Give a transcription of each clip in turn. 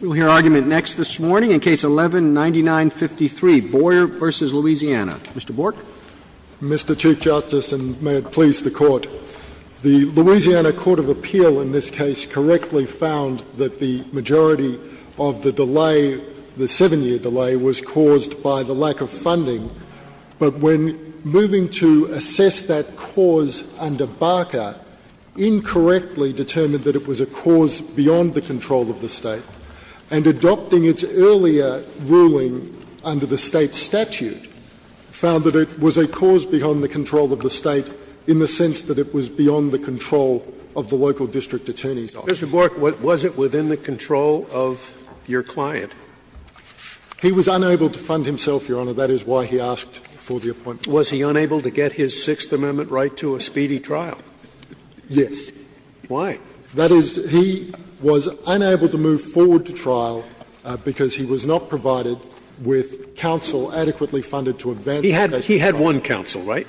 We will hear argument next this morning in Case 11-9953, Boyer v. Louisiana. Mr. Bork. Mr. Chief Justice, and may it please the Court, the Louisiana Court of Appeal in this case correctly found that the majority of the delay, the seven-year delay, was caused by the lack of funding, but when moving to assess that cause under Barker, incorrectly determined that it was a cause beyond the control of the State, and adopting its earlier ruling under the State statute, found that it was a cause beyond the control of the State in the sense that it was beyond the control of the local district attorney's office. Mr. Bork, was it within the control of your client? He was unable to fund himself, Your Honor. That is why he asked for the appointment. Was he unable to get his Sixth Amendment right to a speedy trial? Yes. Why? That is, he was unable to move forward to trial because he was not provided with counsel adequately funded to advance that trial. He had one counsel, right,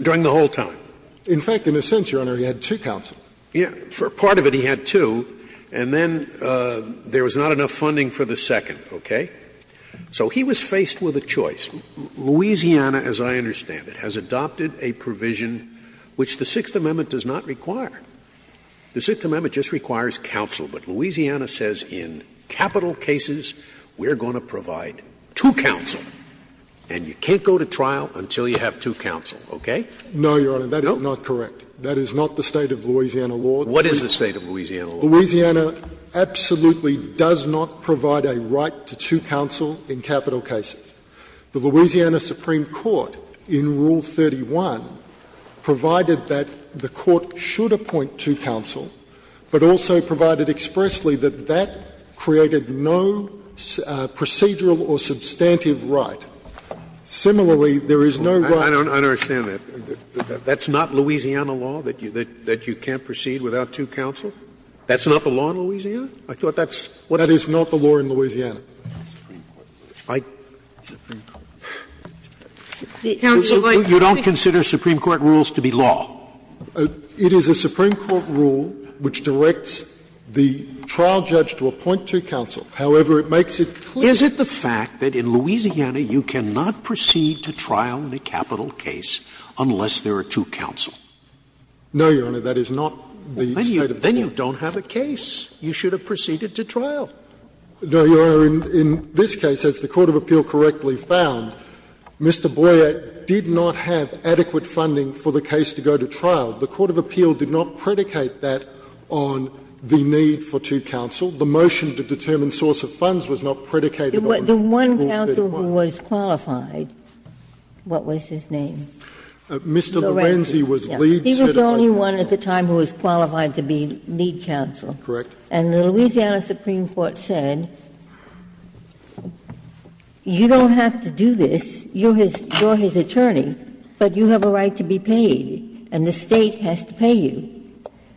during the whole time? In fact, in a sense, Your Honor, he had two counsel. Part of it he had two, and then there was not enough funding for the second. Okay? So he was faced with a choice. Louisiana, as I understand it, has adopted a provision which the Sixth Amendment does not require. The Sixth Amendment just requires counsel. But Louisiana says in capital cases we are going to provide two counsel, and you can't go to trial until you have two counsel. Okay? No, Your Honor. That is not correct. That is not the State of Louisiana law. What is the State of Louisiana law? Louisiana absolutely does not provide a right to two counsel in capital cases. The Louisiana Supreme Court in Rule 31 provided that the court should appoint two counsel, but also provided expressly that that created no procedural or substantive right. Similarly, there is no right to two counsel. I don't understand that. That's not Louisiana law, that you can't proceed without two counsel? That's not the law in Louisiana? That is not the law in Louisiana. You don't consider Supreme Court rules to be law? It is a Supreme Court rule which directs the trial judge to appoint two counsel. However, it makes it clear. Is it the fact that in Louisiana you cannot proceed to trial in a capital case unless there are two counsel? No, Your Honor. That is not the State of Louisiana. Then you don't have a case. You should have proceeded to trial. No, Your Honor. In this case, as the court of appeal correctly found, Mr. Boyer did not have adequate funding for the case to go to trial. The court of appeal did not predicate that on the need for two counsel. The motion to determine source of funds was not predicated on the need for two counsel. The one counsel who was qualified, what was his name? Mr. Lorenzi was lead certified counsel. He was the only one at the time who was qualified to be lead counsel. Correct. And the Louisiana Supreme Court said, you don't have to do this, you're his attorney, but you have a right to be paid and the State has to pay you.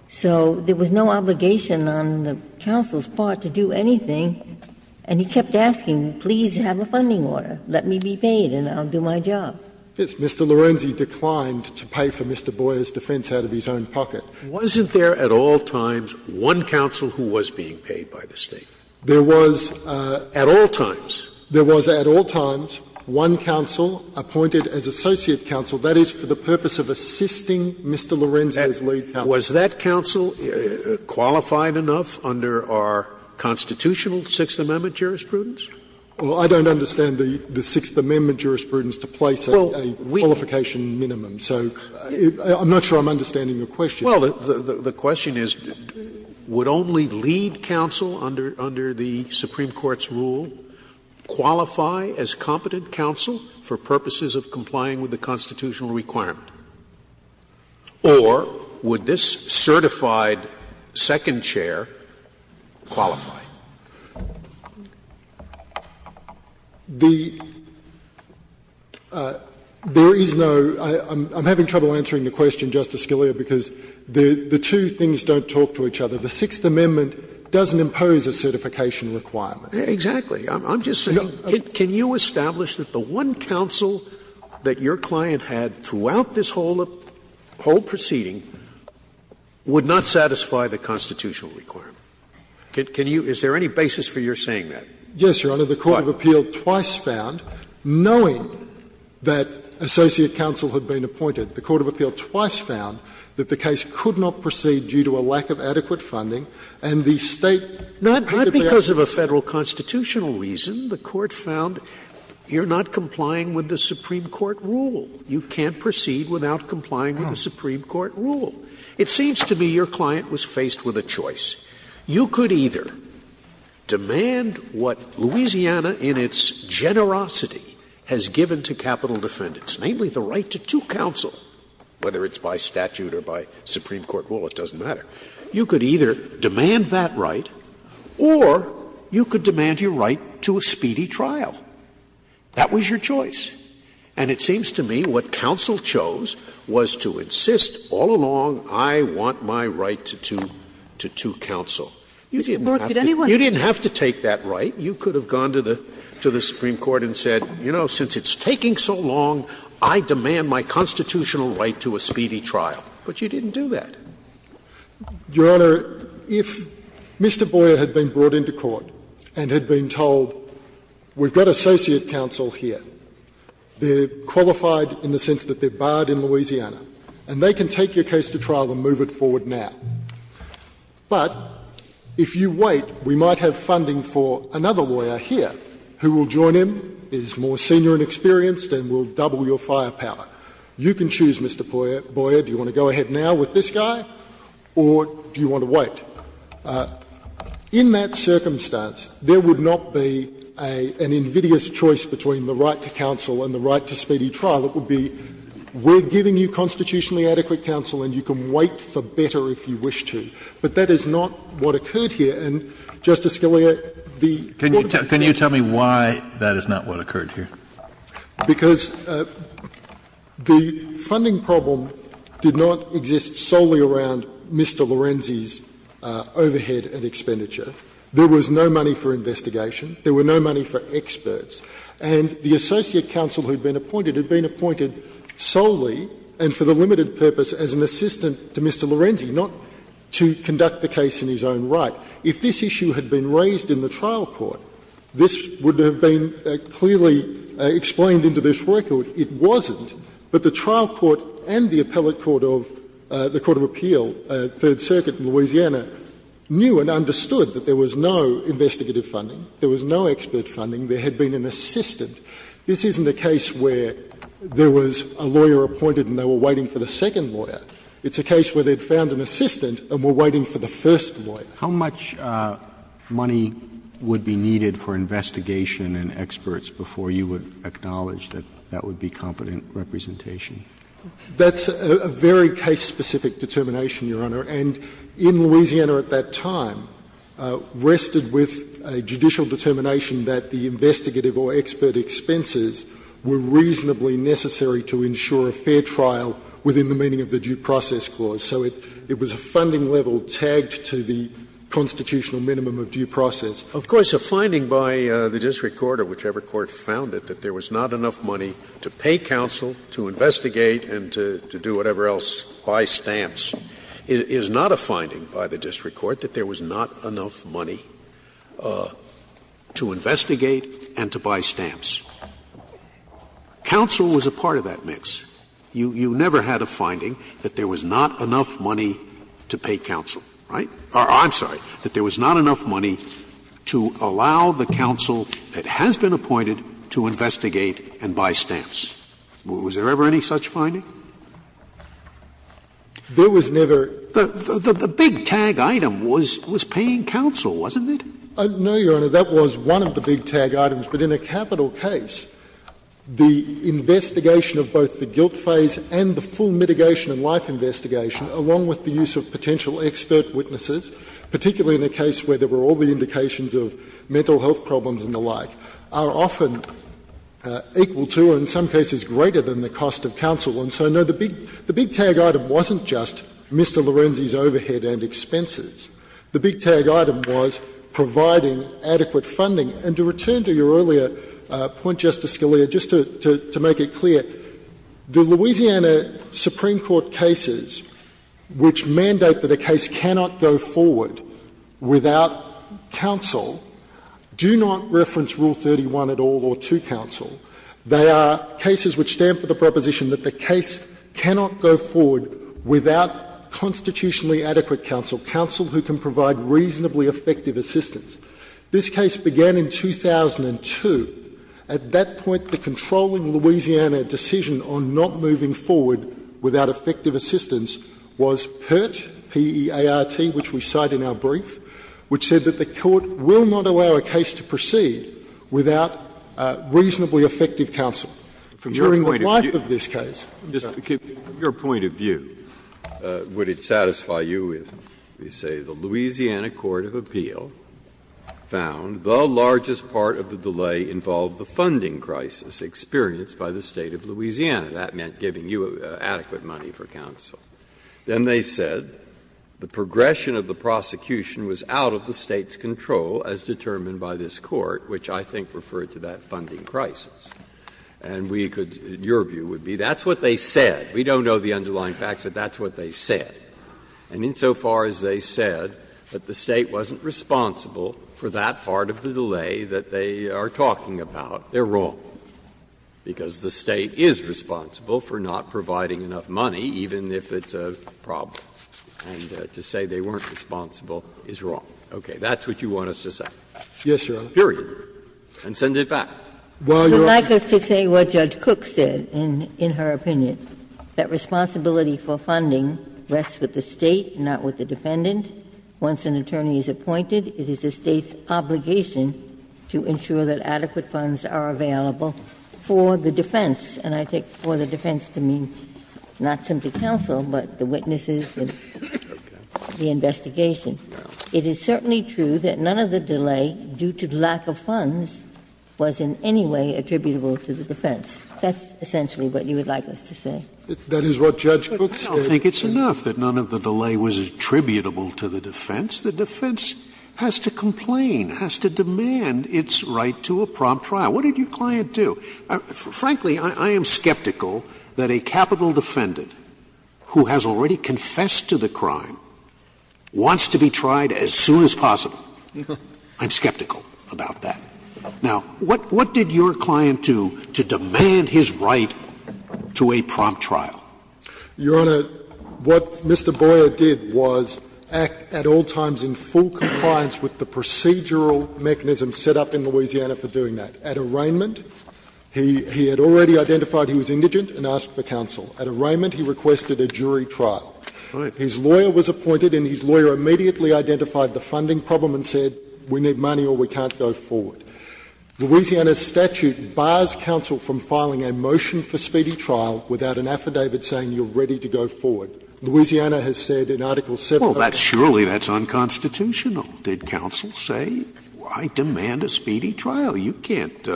So there was no obligation on the counsel's part to do anything, and he kept asking, please have a funding order, let me be paid and I'll do my job. Yes. Mr. Lorenzi declined to pay for Mr. Boyer's defense out of his own pocket. Wasn't there at all times one counsel who was being paid by the State? There was. At all times? There was at all times one counsel appointed as associate counsel. That is for the purpose of assisting Mr. Lorenzi as lead counsel. Was that counsel qualified enough under our constitutional Sixth Amendment jurisprudence? Well, I don't understand the Sixth Amendment jurisprudence to place a qualification minimum. So I'm not sure I'm understanding your question. Well, the question is, would only lead counsel under the Supreme Court's rule qualify as competent counsel for purposes of complying with the constitutional requirement, or would this certified second chair qualify? There is no — I'm having trouble answering the question, Justice Scalia, because the two things don't talk to each other. The Sixth Amendment doesn't impose a certification requirement. Exactly. I'm just saying, can you establish that the one counsel that your client had throughout this whole proceeding would not satisfy the constitutional requirement? Can you — is there any basis for your saying that? Yes, Your Honor. The court of appeal twice found, knowing that associate counsel had been appointed, the court of appeal twice found that the case could not proceed due to a lack of adequate funding, and the State could not be able to proceed. Not because of a Federal constitutional reason. The court found you're not complying with the Supreme Court rule. You can't proceed without complying with the Supreme Court rule. It seems to me your client was faced with a choice. You could either demand what Louisiana in its generosity has given to capital defendants, namely the right to two counsel, whether it's by statute or by Supreme Court rule, it doesn't matter. You could either demand that right, or you could demand your right to a speedy trial. That was your choice. And it seems to me what counsel chose was to insist all along, I want my right to two counsel. You didn't have to take that right. You could have gone to the Supreme Court and said, you know, since it's taking so long, I demand my constitutional right to a speedy trial. But you didn't do that. Your Honor, if Mr. Boyer had been brought into court and had been told, we've got associate counsel here. They're qualified in the sense that they're barred in Louisiana, and they can take your case to trial and move it forward now. But if you wait, we might have funding for another lawyer here who will join him, is more senior and experienced, and will double your firepower. You can choose, Mr. Boyer, do you want to go ahead now with this guy, or do you want to wait? In that circumstance, there would not be an invidious choice between the right to counsel and the right to speedy trial. It would be, we're giving you constitutionally adequate counsel, and you can wait for better if you wish to. But that is not what occurred here. And, Justice Scalia, the court of appeals— Kennedy— Can you tell me why that is not what occurred here? Because the funding problem did not exist solely around Mr. Lorenzi's overhead and expenditure. There was no money for investigation. There were no money for experts. And the associate counsel who had been appointed had been appointed solely and for the limited purpose as an assistant to Mr. Lorenzi, not to conduct the case in his own right. If this issue had been raised in the trial court, this would have been clearly explained into this record. It wasn't. But the trial court and the appellate court of the court of appeal, Third Circuit in Louisiana, knew and understood that there was no investigative funding, there was no expert funding. There had been an assistant. This isn't a case where there was a lawyer appointed and they were waiting for the second lawyer. It's a case where they had found an assistant and were waiting for the first lawyer. How much money would be needed for investigation and experts before you would acknowledge that that would be competent representation? That's a very case-specific determination, Your Honor. And in Louisiana at that time rested with a judicial determination that the investigative or expert expenses were reasonably necessary to ensure a fair trial within the meaning of the due process clause. So it was a funding level tagged to the constitutional minimum of due process. Scalia. Of course, a finding by the district court or whichever court found it, that there was not enough money to pay counsel, to investigate, and to do whatever else, buy stamps. It is not a finding by the district court that there was not enough money to investigate and to buy stamps. Counsel was a part of that mix. You never had a finding that there was not enough money to pay counsel, right? Or I'm sorry, that there was not enough money to allow the counsel that has been appointed to investigate and buy stamps. Was there ever any such finding? There was never. The big tag item was paying counsel, wasn't it? No, Your Honor, that was one of the big tag items. But in a capital case, the investigation of both the guilt phase and the full mitigation and life investigation, along with the use of potential expert witnesses, particularly in a case where there were all the indications of mental health problems and the like, are often equal to, or in some cases greater than, the cost of counsel. And so, no, the big tag item wasn't just Mr. Lorenzi's overhead and expenses. The big tag item was providing adequate funding. And to return to your earlier point, Justice Scalia, just to make it clear, the Louisiana Supreme Court cases which mandate that a case cannot go forward without counsel do not reference Rule 31 at all or to counsel. They are cases which stand for the proposition that the case cannot go forward without constitutionally adequate counsel, counsel who can provide reasonably effective assistance. This case began in 2002. At that point, the controlling Louisiana decision on not moving forward without effective assistance was PERT, P-E-R-T, which we cite in our brief, which said that the Court will not allow a case to proceed without reasonably effective counsel during the life of this case. Breyer. From your point of view, would it satisfy you if we say the Louisiana court of appeal found the largest part of the delay involved the funding crisis experienced by the State of Louisiana? That meant giving you adequate money for counsel. Then they said the progression of the prosecution was out of the State's control as determined by this Court, which I think referred to that funding crisis. And we could — your view would be that's what they said. We don't know the underlying facts, but that's what they said. And insofar as they said that the State wasn't responsible for that part of the delay that they are talking about, they're wrong, because the State is responsible for not providing enough money, even if it's a problem. And to say they weren't responsible is wrong. Okay. That's what you want us to say. Yes, Your Honor. And send it back. While you're up here. You would like us to say what Judge Cook said in her opinion, that responsibility for funding rests with the State, not with the defendant. Once an attorney is appointed, it is the State's obligation to ensure that adequate funds are available for the defense. And I take for the defense to mean not simply counsel, but the witnesses and the investigation. It is certainly true that none of the delay, due to lack of funds, was in any way attributable to the defense. That's essentially what you would like us to say. That is what Judge Cook stated. I don't think it's enough that none of the delay was attributable to the defense. The defense has to complain, has to demand its right to a prompt trial. What did your client do? Frankly, I am skeptical that a capital defendant who has already confessed to the crime wants to be tried as soon as possible. I'm skeptical about that. Now, what did your client do to demand his right to a prompt trial? Your Honor, what Mr. Boyer did was act at all times in full compliance with the procedural mechanism set up in Louisiana for doing that. At arraignment, he had already identified he was indigent and asked for counsel. At arraignment, he requested a jury trial. Right. His lawyer was appointed, and his lawyer immediately identified the funding problem and said, we need money or we can't go forward. Louisiana's statute bars counsel from filing a motion for speedy trial without an affidavit saying you're ready to go forward. Louisiana has said in Article 7 of the statute. Well, surely that's unconstitutional. Did counsel say, I demand a speedy trial? You can't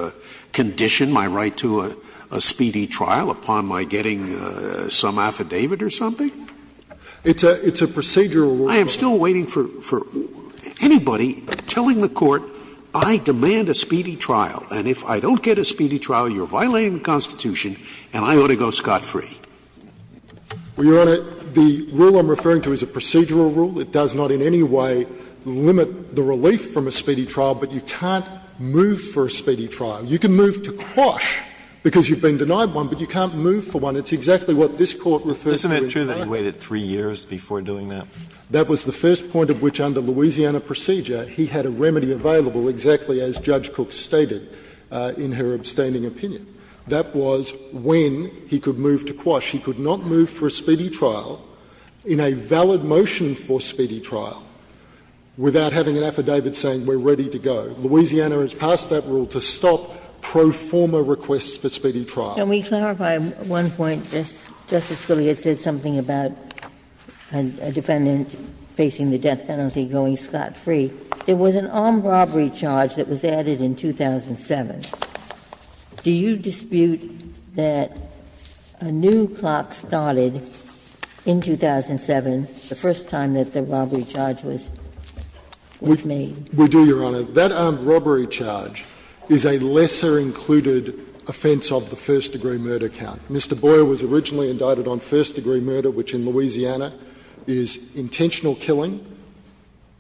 condition my right to a speedy trial upon my getting some affidavit or something. It's a procedural rule. I am still waiting for anybody telling the Court, I demand a speedy trial, and if I don't get a speedy trial, you're violating the Constitution and I ought to go scot-free. Well, Your Honor, the rule I'm referring to is a procedural rule. It does not in any way limit the relief from a speedy trial, but you can't move for a speedy trial. You can move to quash because you've been denied one, but you can't move for one. It's exactly what this Court refers to in court. Isn't it true that he waited 3 years before doing that? That was the first point of which, under Louisiana procedure, he had a remedy available exactly as Judge Cook stated in her abstaining opinion. That was when he could move to quash. He could not move for a speedy trial in a valid motion for speedy trial without having an affidavit saying we're ready to go. Louisiana has passed that rule to stop pro forma requests for speedy trial. Can we clarify one point? Justice Scalia said something about a defendant facing the death penalty going scot-free. There was an armed robbery charge that was added in 2007. Do you dispute that a new clock started in 2007, the first time that the robbery charge was made? We do, Your Honor. That armed robbery charge is a lesser included offense of the first degree murder count. Mr. Boyer was originally indicted on first degree murder, which in Louisiana is intentional killing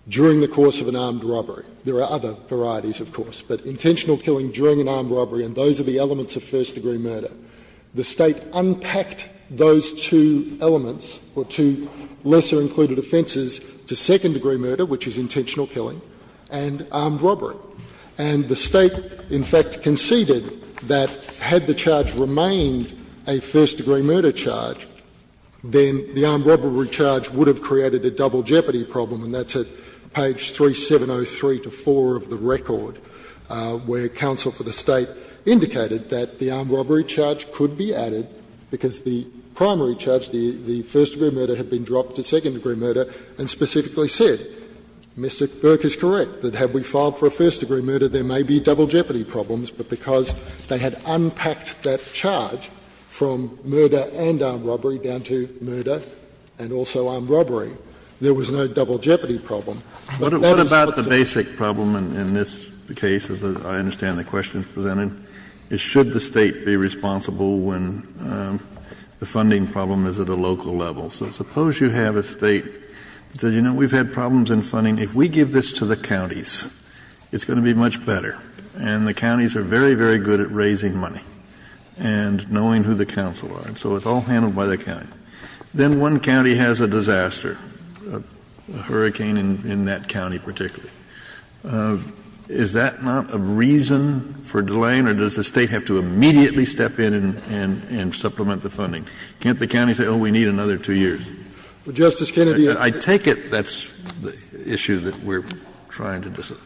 during the course of an armed robbery. There are other varieties, of course, but intentional killing during an armed robbery and those are the elements of first degree murder. The State unpacked those two elements or two lesser included offenses to second degree murder, which is intentional killing, and armed robbery. And the State, in fact, conceded that had the charge remained a first degree murder charge, then the armed robbery charge would have created a double jeopardy problem, and that's at page 3703-4 of the record, where counsel for the State indicated that the armed robbery charge could be added because the primary charge, the first degree murder, had been dropped to second degree murder and specifically said, Mr. Burke is correct, that had we filed for a first degree murder, there may be double jeopardy problems, but because they had unpacked that charge from murder and armed robbery, there was a double jeopardy problem. Kennedy, what about the basic problem in this case, as I understand the questions presented, is should the State be responsible when the funding problem is at a local level? So suppose you have a State that says, you know, we've had problems in funding. If we give this to the counties, it's going to be much better, and the counties are very, very good at raising money and knowing who the counsel are, so it's all handled by the county. Then one county has a disaster, a hurricane in that county particularly. Is that not a reason for delaying, or does the State have to immediately step in and supplement the funding? Can't the county say, oh, we need another two years? Justice Kennedy, I take it that's the issue that we're trying to decide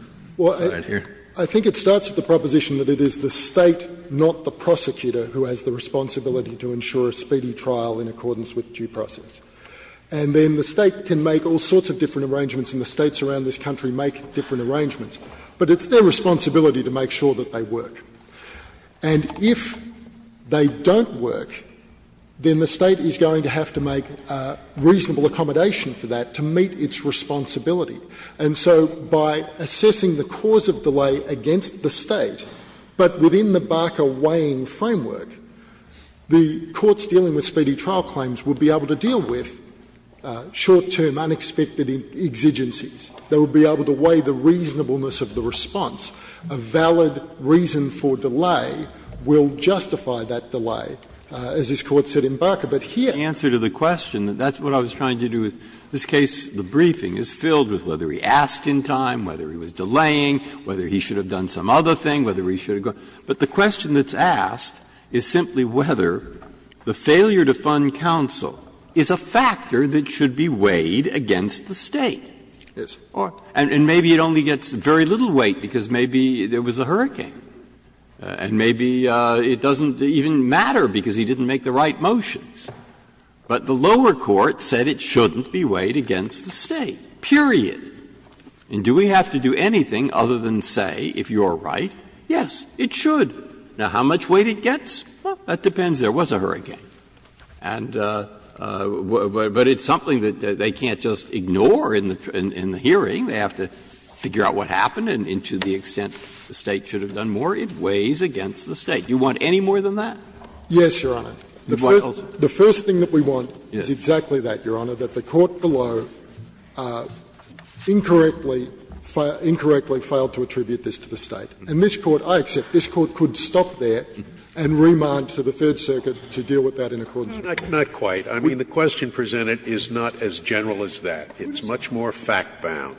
here. Well, I think it starts with the proposition that it is the State, not the prosecutor, who has the responsibility to ensure a speedy trial in accordance with due process. And then the State can make all sorts of different arrangements, and the States around this country make different arrangements. But it's their responsibility to make sure that they work. And if they don't work, then the State is going to have to make reasonable accommodation for that to meet its responsibility. And so by assessing the cause of delay against the State, but within the Barker weighing framework, the courts dealing with speedy trial claims will be able to deal with short-term, unexpected exigencies. They will be able to weigh the reasonableness of the response. A valid reason for delay will justify that delay, as this Court said in Barker. But here the answer to the question, that's what I was trying to do with this case. The briefing is filled with whether he asked in time, whether he was delaying, whether he should have done some other thing, whether he should have gone. But the question that's asked is simply whether the failure to fund counsel is a factor that should be weighed against the State. And maybe it only gets very little weight because maybe there was a hurricane. And maybe it doesn't even matter because he didn't make the right motions. But the lower court said it shouldn't be weighed against the State, period. And do we have to do anything other than say, if you're right, yes, it should Now, how much weight it gets? Well, that depends. There was a hurricane. But it's something that they can't just ignore in the hearing. They have to figure out what happened and to the extent the State should have done more. It weighs against the State. Do you want any more than that? Yes, Your Honor. The first thing that we want is exactly that, Your Honor, that the court below incorrectly failed to attribute this to the State. And this Court, I accept, this Court could stop there and remand to the Third Circuit to deal with that in accordance with it. Not quite. I mean, the question presented is not as general as that. It's much more fact-bound.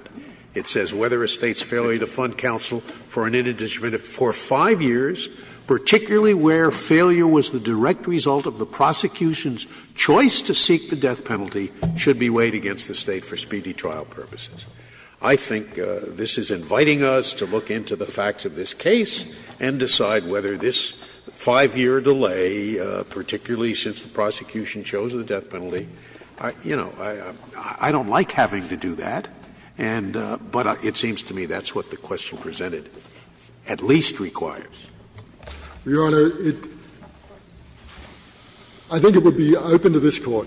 It says whether a State's failure to fund counsel for an indeterminate for five years, particularly where failure was the direct result of the prosecution's choice to seek the death penalty, should be weighed against the State for speedy trial purposes. I think this is inviting us to look into the facts of this case and decide whether this five-year delay, particularly since the prosecution chose the death penalty, you know, I don't like having to do that. But it seems to me that's what the question presented at least requires. Your Honor, I think it would be open to this Court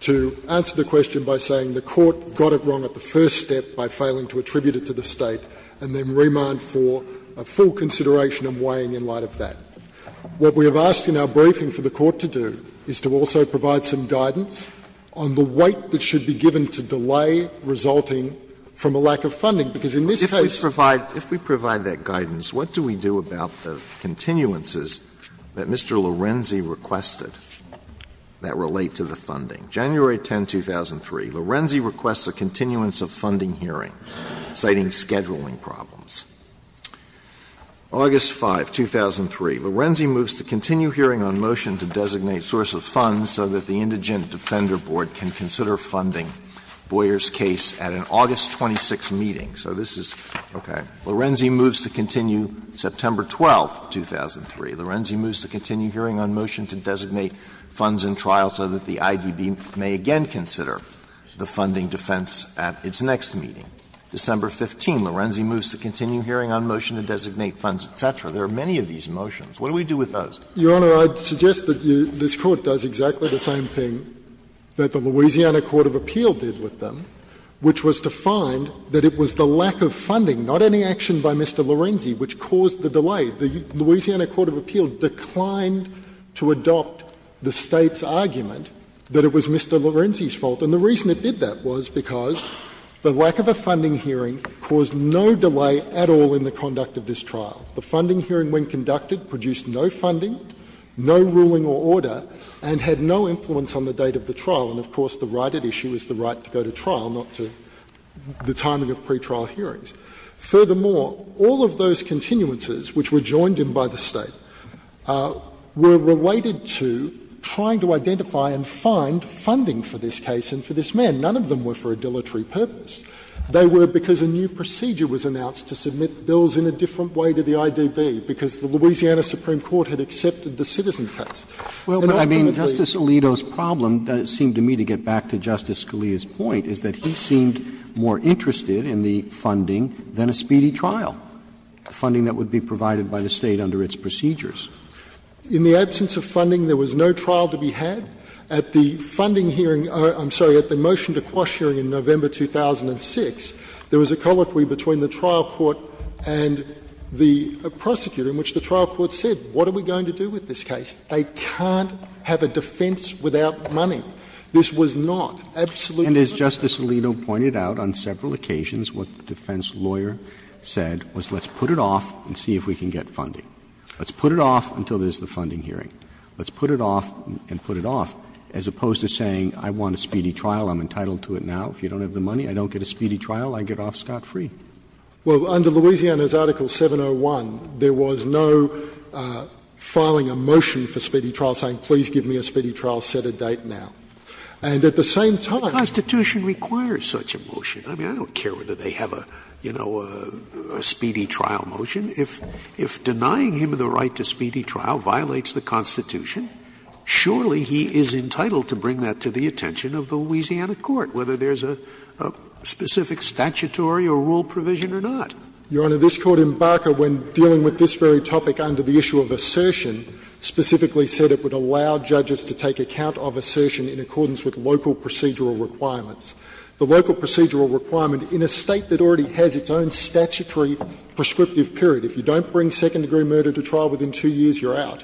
to answer the question by saying the Court got it wrong at the first step by failing to attribute it to the State and then remand for a full consideration and weighing in light of that. What we have asked in our briefing for the Court to do is to also provide some guidance on the weight that should be given to delay resulting from a lack of funding, because in this case the State should be responsible. Alito If we provide that guidance, what do we do about the continuances that Mr. Lorenzi requested that relate to the funding? January 10, 2003, Lorenzi requests a continuance of funding hearing, citing scheduling problems. August 5, 2003, Lorenzi moves to continue hearing on motion to designate source of funds so that the indigent defender board can consider funding Boyer's case at an August 26 meeting. So this is, okay. Lorenzi moves to continue September 12, 2003. Lorenzi moves to continue hearing on motion to designate funds in trial so that the IDB may again consider the funding defense at its next meeting. December 15, Lorenzi moves to continue hearing on motion to designate funds, etc. There are many of these motions. What do we do with those? Your Honor, I'd suggest that this Court does exactly the same thing that the Louisiana court of appeal did with them, which was to find that it was the lack of funding, not any action by Mr. Lorenzi, which caused the delay. The Louisiana court of appeal declined to adopt the State's argument that it was Mr. Lorenzi's fault. And the reason it did that was because the lack of a funding hearing caused no delay at all in the conduct of this trial. The funding hearing, when conducted, produced no funding, no ruling or order, and had no influence on the date of the trial. And, of course, the right at issue is the right to go to trial, not to the timing of pretrial hearings. Furthermore, all of those continuances, which were joined in by the State, were related to trying to identify and find funding for this case and for this man. None of them were for a dilatory purpose. They were because a new procedure was announced to submit bills in a different way to the IDB, because the Louisiana supreme court had accepted the citizen And ultimately, it was the State's fault. Roberts. Well, but, I mean, Justice Alito's problem, it seemed to me to get back to Justice Scalia's point, is that he seemed more interested in the funding than a speedy trial, funding that would be provided by the State under its procedures. In the absence of funding, there was no trial to be had. At the funding hearing or, I'm sorry, at the motion to quash hearing in November 2006, there was a colloquy between the trial court and the prosecutor in which the trial court said, what are we going to do with this case? They can't have a defense without money. This was not absolutely. And as Justice Alito pointed out on several occasions, what the defense lawyer said was, let's put it off and see if we can get funding. Let's put it off until there's the funding hearing. Let's put it off and put it off, as opposed to saying, I want a speedy trial. I'm entitled to it now. If you don't have the money, I don't get a speedy trial. I get off scot-free. Well, under Louisiana's Article 701, there was no filing a motion for speedy trial saying, please give me a speedy trial, set a date now. And at the same time — The Constitution requires such a motion. I mean, I don't care whether they have a, you know, a speedy trial motion. If denying him the right to speedy trial violates the Constitution, surely he is entitled to bring that to the attention of the Louisiana court, whether there's a specific statutory or rule provision or not. Your Honor, this Court in Barker, when dealing with this very topic under the issue of assertion, specifically said it would allow judges to take account of assertion in accordance with local procedural requirements. The local procedural requirement in a State that already has its own statutory prescriptive period, if you don't bring second-degree murder to trial within two years, you're out.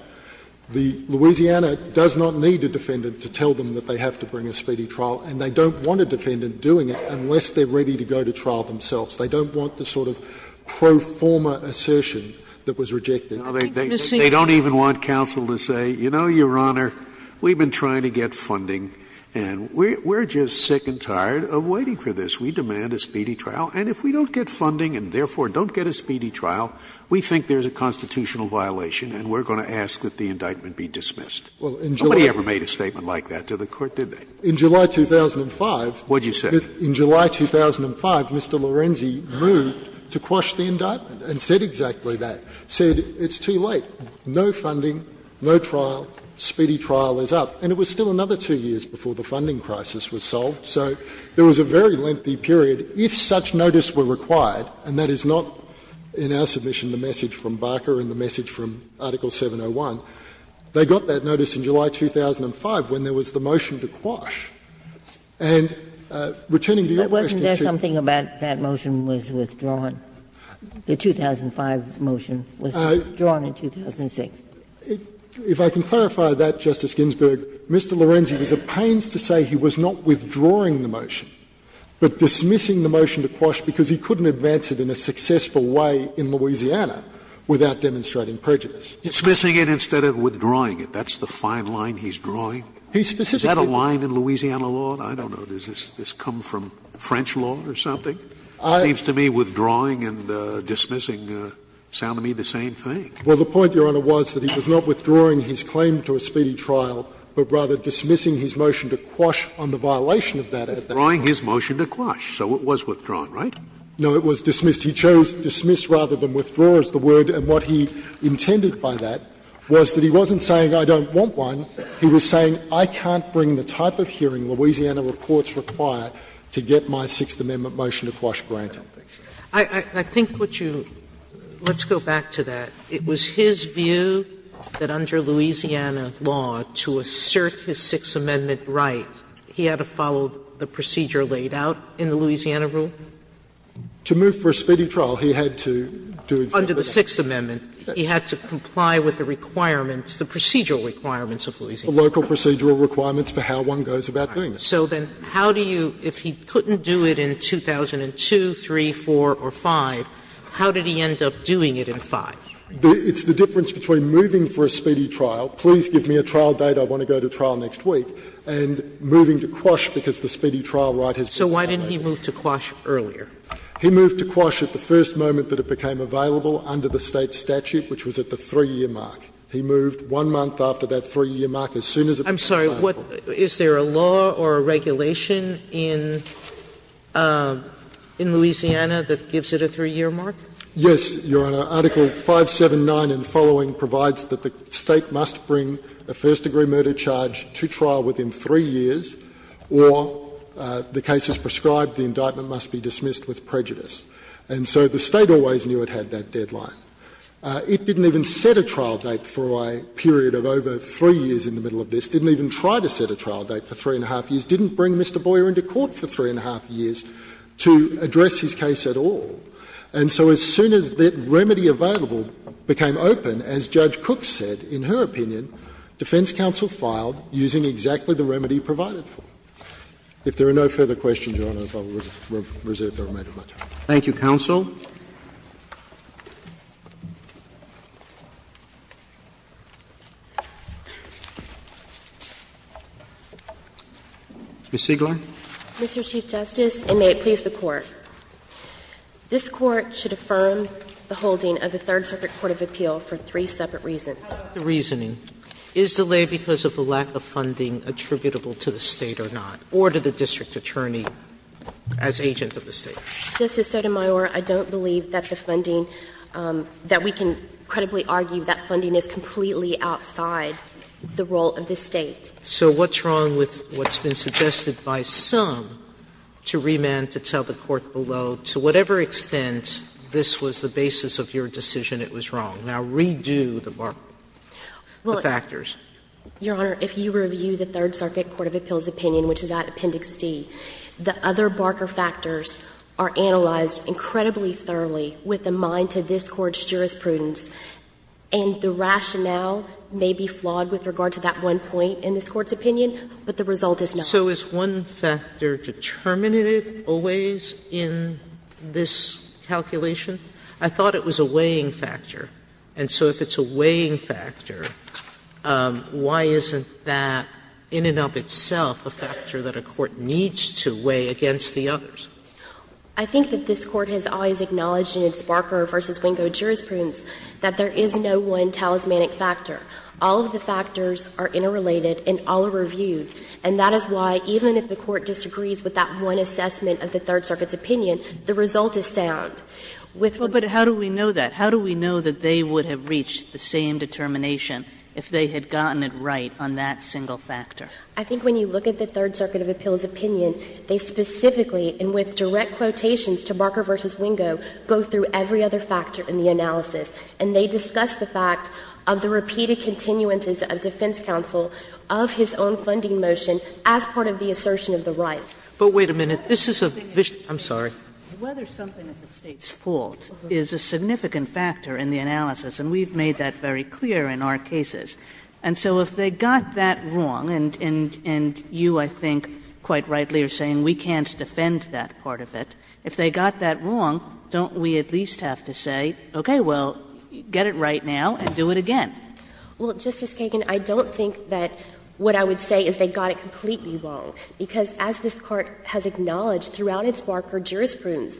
Louisiana does not need a defendant to tell them that they have to bring a speedy trial, and they don't want a defendant doing it unless they're ready to go to trial themselves. They don't want the sort of pro forma assertion that was rejected. They don't even want counsel to say, you know, Your Honor, we've been trying to get funding, and we're just sick and tired of waiting for this. We demand a speedy trial, and if we don't get funding and, therefore, don't get a speedy trial, we think there's a constitutional violation and we're going to ask that the indictment be dismissed. Nobody ever made a statement like that to the Court, did they? In July 2005, Mr. Lorenzi moved to quash the indictment and said exactly that. He said it's too late. No funding, no trial, speedy trial is up. And it was still another two years before the funding crisis was solved. So there was a very lengthy period. If such notice were required, and that is not in our submission the message from Barker and the message from Article 701, they got that notice in July 2005 when there And returning to your question, Your Honor. Something about that motion was withdrawn. The 2005 motion was withdrawn in 2006. If I can clarify that, Justice Ginsburg, Mr. Lorenzi was at pains to say he was not withdrawing the motion, but dismissing the motion to quash because he couldn't advance it in a successful way in Louisiana without demonstrating prejudice. Dismissing it instead of withdrawing it. That's the fine line he's drawing? He specifically Is that a line in Louisiana law? I don't know. Does this come from French law or something? It seems to me withdrawing and dismissing sound to me the same thing. Well, the point, Your Honor, was that he was not withdrawing his claim to a speedy trial, but rather dismissing his motion to quash on the violation of that. Withdrawing his motion to quash. So it was withdrawn, right? No, it was dismissed. He chose dismiss rather than withdraw as the word. And what he intended by that was that he wasn't saying I don't want one. He was saying I can't bring the type of hearing Louisiana reports require to get my Sixth Amendment motion to quash granted. I think what you, let's go back to that. It was his view that under Louisiana law to assert his Sixth Amendment right, he had to follow the procedure laid out in the Louisiana rule? To move for a speedy trial, he had to do exactly that. Under the Sixth Amendment, he had to comply with the requirements, the procedural requirements of Louisiana law. The local procedural requirements for how one goes about doing that. So then how do you, if he couldn't do it in 2002, 3, 4, or 5, how did he end up doing it in 5? It's the difference between moving for a speedy trial, please give me a trial date, I want to go to trial next week, and moving to quash because the speedy trial right has been violated. So why didn't he move to quash earlier? He moved to quash at the first moment that it became available under the State statute, which was at the 3-year mark. He moved one month after that 3-year mark, as soon as it became available. I'm sorry. Is there a law or a regulation in Louisiana that gives it a 3-year mark? Yes, Your Honor. Article 579 and following provides that the State must bring a first degree murder charge to trial within 3 years, or the case is prescribed, the indictment must be dismissed with prejudice. And so the State always knew it had that deadline. It didn't even set a trial date for a period of over 3 years in the middle of this, didn't even try to set a trial date for 3-1⁄2 years, didn't bring Mr. Boyer into court for 3-1⁄2 years to address his case at all. And so as soon as the remedy available became open, as Judge Cook said, in her opinion, defense counsel filed using exactly the remedy provided for. If there are no further questions, Your Honor, I will reserve the remainder of my time. Thank you, counsel. Ms. Siegler. Mr. Chief Justice, and may it please the Court. This Court should affirm the holding of the Third Circuit Court of Appeal for three separate reasons. The reasoning. Is delay because of the lack of funding attributable to the State or not? Or to the district attorney as agent of the State? Justice Sotomayor, I don't believe that the funding, that we can credibly argue that funding is completely outside the role of the State. So what's wrong with what's been suggested by some to remand to tell the Court below to whatever extent this was the basis of your decision it was wrong? Now, redo the markers, the factors. Your Honor, if you review the Third Circuit Court of Appeal's opinion, which is at least one factor, the factors are analyzed incredibly thoroughly with a mind to this Court's jurisprudence. And the rationale may be flawed with regard to that one point in this Court's opinion, but the result is not. So is one factor determinative always in this calculation? I thought it was a weighing factor. And so if it's a weighing factor, why isn't that in and of itself a factor that a court needs to weigh against the others? I think that this Court has always acknowledged in its Barker v. Wingo jurisprudence that there is no one talismanic factor. All of the factors are interrelated and all are reviewed. And that is why even if the Court disagrees with that one assessment of the Third Circuit's opinion, the result is sound. But how do we know that? How do we know that they would have reached the same determination if they had gotten it right on that single factor? I think when you look at the Third Circuit of Appeal's opinion, they specifically and with direct quotations to Barker v. Wingo go through every other factor in the analysis. And they discuss the fact of the repeated continuances of defense counsel of his own funding motion as part of the assertion of the right. But wait a minute. This is a vision. I'm sorry. Whether something is the State's fault is a significant factor in the analysis, and we've made that very clear in our cases. And so if they got that wrong, and you, I think, quite rightly are saying we can't defend that part of it. If they got that wrong, don't we at least have to say, okay, well, get it right now and do it again? Well, Justice Kagan, I don't think that what I would say is they got it completely wrong, because as this Court has acknowledged throughout its Barker jurisprudence,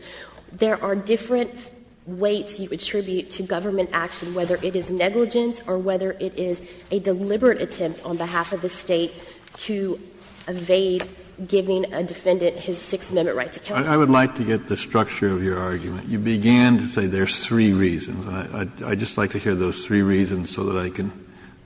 there are different weights you attribute to government action, whether it is negligence or whether it is a deliberate attempt on behalf of the State to evade giving a defendant his Sixth Amendment right to counsel. Kennedy. I would like to get the structure of your argument. You began to say there's three reasons. I'd just like to hear those three reasons so that I can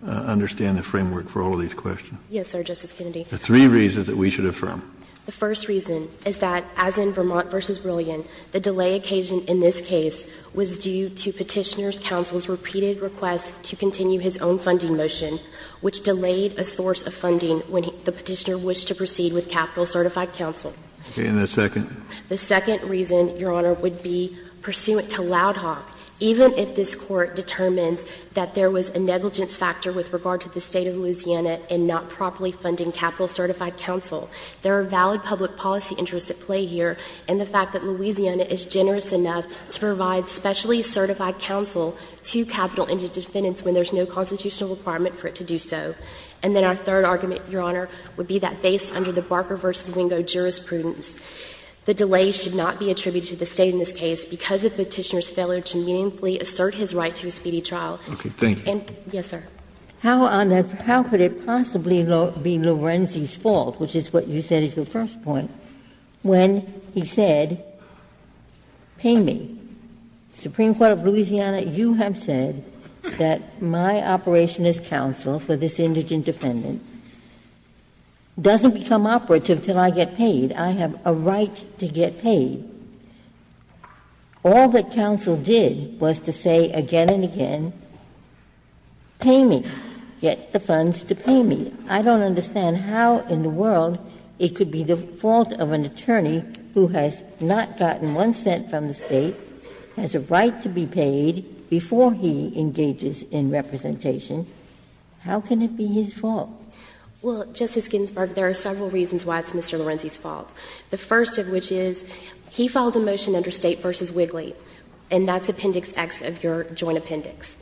understand the framework for all of these questions. Yes, sir, Justice Kennedy. The three reasons that we should affirm. The first reason is that, as in Vermont v. Brilliant, the delay occasion in this case was due to Petitioner's counsel's repeated request to continue his own funding motion, which delayed a source of funding when the Petitioner wished to proceed with capital-certified counsel. Okay. And the second? The second reason, Your Honor, would be pursuant to Loud Hawk, even if this Court determines that there was a negligence factor with regard to the State of Louisiana in not properly funding capital-certified counsel, there are valid public policy interests at play here, and the fact that Louisiana is generous enough to provide specially certified counsel to capital-ended defendants when there's no constitutional requirement for it to do so. And then our third argument, Your Honor, would be that based under the Barker v. Wingo jurisprudence, the delay should not be attributed to the State in this case because of Petitioner's failure to meaningfully assert his right to a speedy trial. Okay. Thank you. Yes, sir. How, on that, how could it possibly be Lorenzi's fault, which is what you said as your first point, when he said, pay me, Supreme Court of Louisiana, you have said that my operation as counsel for this indigent defendant doesn't become operative until I get paid, I have a right to get paid, all that counsel did was to say again and again, pay me, get the funds to pay me. I don't understand how in the world it could be the fault of an attorney who has not gotten one cent from the State, has a right to be paid before he engages in representation. How can it be his fault? Well, Justice Ginsburg, there are several reasons why it's Mr. Lorenzi's fault. The first of which is he filed a motion under State v. Wigley, and that's Appendix X of your Joint Appendix.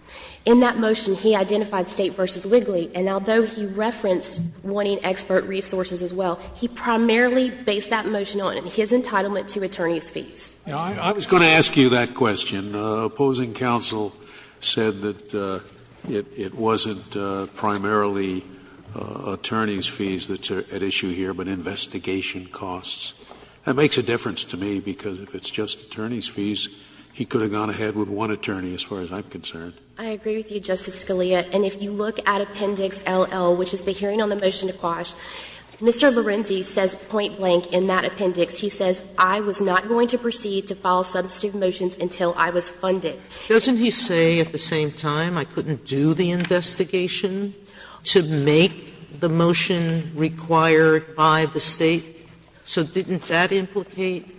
In that motion, he identified State v. Wigley, and although he referenced wanting expert resources as well, he primarily based that motion on his entitlement to attorney's fees. I was going to ask you that question. Opposing counsel said that it wasn't primarily attorney's fees that's at issue here, but investigation costs. That makes a difference to me, because if it's just attorney's fees, he could have gone ahead with one attorney as far as I'm concerned. I agree with you, Justice Scalia, and if you look at Appendix LL, which is the hearing on the motion to quash, Mr. Lorenzi says point blank in that appendix, he says, I was not going to proceed to file substantive motions until I was funded. Doesn't he say at the same time, I couldn't do the investigation to make the motion required by the State? So didn't that implicate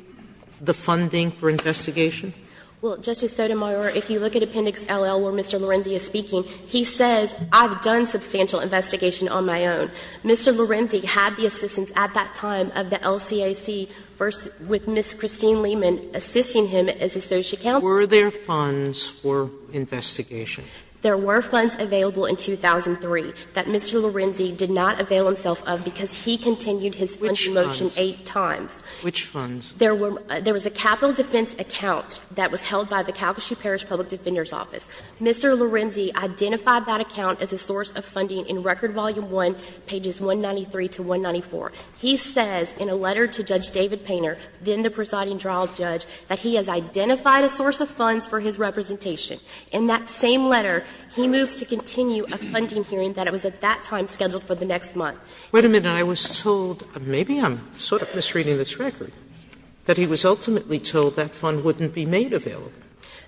the funding for investigation? Well, Justice Sotomayor, if you look at Appendix LL where Mr. Lorenzi is speaking, he says, I've done substantial investigation on my own. Mr. Lorenzi had the assistance at that time of the LCAC with Ms. Christine Lehman assisting him as associate counsel. Were there funds for investigation? There were funds available in 2003 that Mr. Lorenzi did not avail himself of because he continued his funding motion eight times. Which funds? Which funds? There was a capital defense account that was held by the Calcasieu Parish Public Defender's Office. Mr. Lorenzi identified that account as a source of funding in Record Volume I, pages 193 to 194. He says in a letter to Judge David Painter, then the presiding trial judge, that he has identified a source of funds for his representation. In that same letter, he moves to continue a funding hearing that was at that time scheduled for the next month. Wait a minute. I was told, maybe I'm sort of misreading this record, that he was ultimately told that fund wouldn't be made available.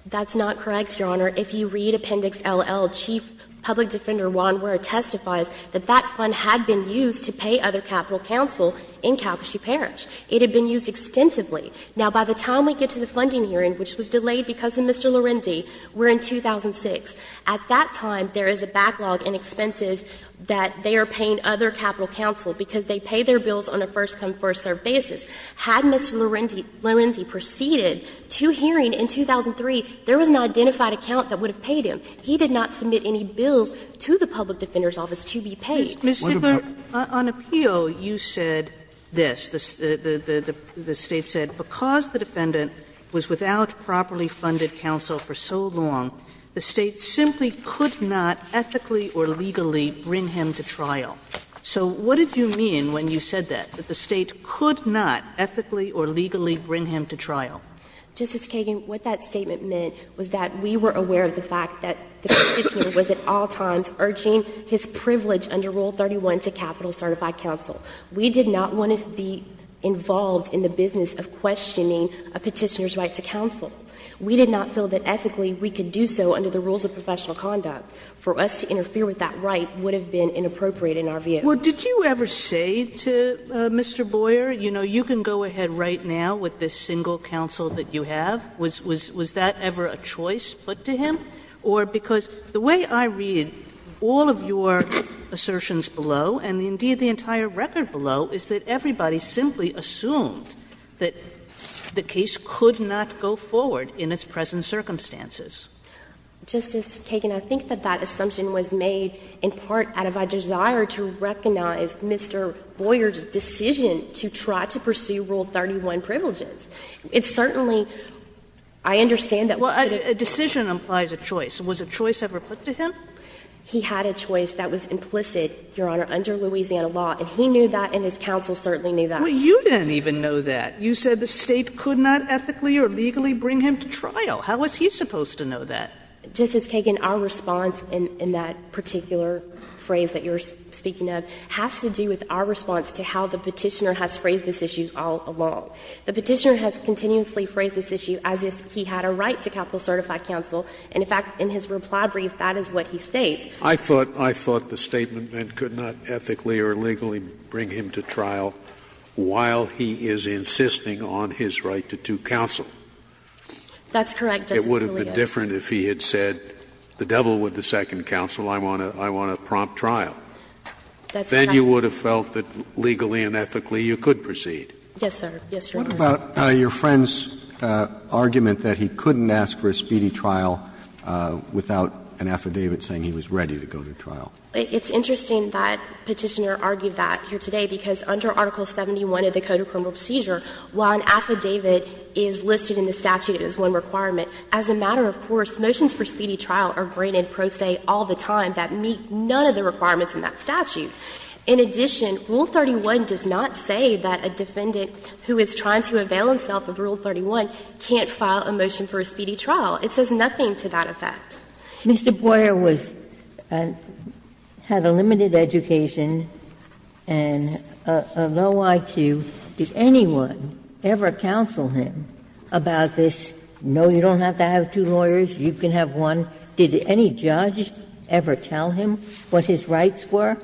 That's not correct, Your Honor. If you read Appendix LL, Chief Public Defender Wanwer testifies that that fund had been used to pay other capital counsel in Calcasieu Parish. It had been used extensively. Now, by the time we get to the funding hearing, which was delayed because of Mr. Lorenzi, we're in 2006. At that time, there is a backlog in expenses that they are paying other capital counsel because they pay their bills on a first-come, first-served basis. Had Mr. Lorenzi proceeded to hearing in 2003, there was an identified account that would have paid him. He did not submit any bills to the Public Defender's Office to be paid. Ms. Sigler, on appeal, you said this. The State said because the defendant was without properly funded counsel for so long, the State simply could not ethically or legally bring him to trial. So what did you mean when you said that, that the State could not ethically or legally bring him to trial? Justice Kagan, what that statement meant was that we were aware of the fact that the Petitioner was at all times urging his privilege under Rule 31 to capital certified counsel. We did not want to be involved in the business of questioning a Petitioner's right to counsel. We did not feel that ethically we could do so under the rules of professional conduct. For us to interfere with that right would have been inappropriate in our view. Well, did you ever say to Mr. Boyer, you know, you can go ahead right now with this single counsel that you have? Was that ever a choice put to him? Or because the way I read all of your assertions below, and indeed the entire record below, is that everybody simply assumed that the case could not go forward in its present circumstances. Justice Kagan, I think that that assumption was made in part out of a desire to recognize Mr. Boyer's decision to try to pursue Rule 31 privileges. It certainly, I understand that. Well, a decision implies a choice. Was a choice ever put to him? He had a choice that was implicit, Your Honor, under Louisiana law, and he knew that and his counsel certainly knew that. Well, you didn't even know that. You said the State could not ethically or legally bring him to trial. How was he supposed to know that? Justice Kagan, our response in that particular phrase that you're speaking of has to do with our response to how the Petitioner has phrased this issue all along. The Petitioner has continuously phrased this issue as if he had a right to capital certified counsel. And, in fact, in his reply brief, that is what he states. I thought the Statement meant could not ethically or legally bring him to trial while he is insisting on his right to do counsel. That's correct, Justice Scalia. It would have been different if he had said, the devil with the second counsel, I want to prompt trial. That's correct. Then you would have felt that legally and ethically you could proceed. Yes, sir. Yes, Your Honor. What about your friend's argument that he couldn't ask for a speedy trial without an affidavit saying he was ready to go to trial? It's interesting that Petitioner argued that here today, because under Article 71 of the Code of Criminal Procedure, while an affidavit is listed in the statute as one requirement, as a matter of course, motions for speedy trial are granted pro se all the time that meet none of the requirements in that statute. In addition, Rule 31 does not say that a defendant who is trying to avail himself of Rule 31 can't file a motion for a speedy trial. It says nothing to that effect. Mr. Boyer was and had a limited education and a low IQ. Did anyone ever counsel him about this? No, you don't have to have two lawyers. You can have one. Did any judge ever tell him what his rights were?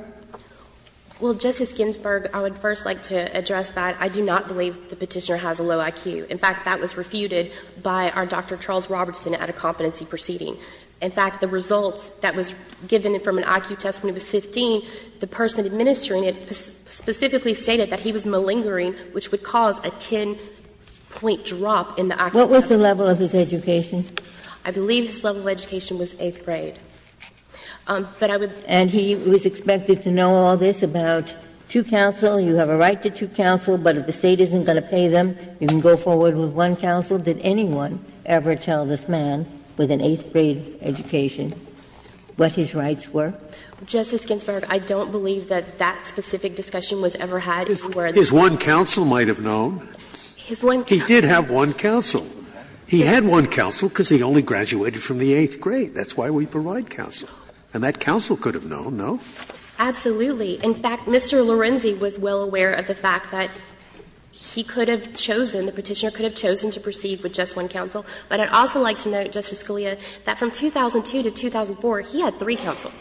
Well, Justice Ginsburg, I would first like to address that. I do not believe the Petitioner has a low IQ. In fact, that was refuted by our Dr. Charles Robertson at a competency proceeding. In fact, the results that was given from an IQ test when he was 15, the person administering it specifically stated that he was malingering, which would cause a 10-point drop in the accuracy. What was the level of his education? I believe his level of education was eighth grade. But I would. And he was expected to know all this about two counsel. You have a right to two counsel, but if the State isn't going to pay them, you can go forward with one counsel. Did anyone ever tell this man with an eighth grade education what his rights were? Justice Ginsburg, I don't believe that that specific discussion was ever had. Is he aware of that? His one counsel might have known. His one counsel. He did have one counsel. He had one counsel because he only graduated from the eighth grade. That's why we provide counsel. And that counsel could have known, no? Absolutely. In fact, Mr. Lorenzi was well aware of the fact that he could have chosen, the Petitioner could have chosen to proceed with just one counsel. But I'd also like to note, Justice Scalia, that from 2002 to 2004, he had three counsel.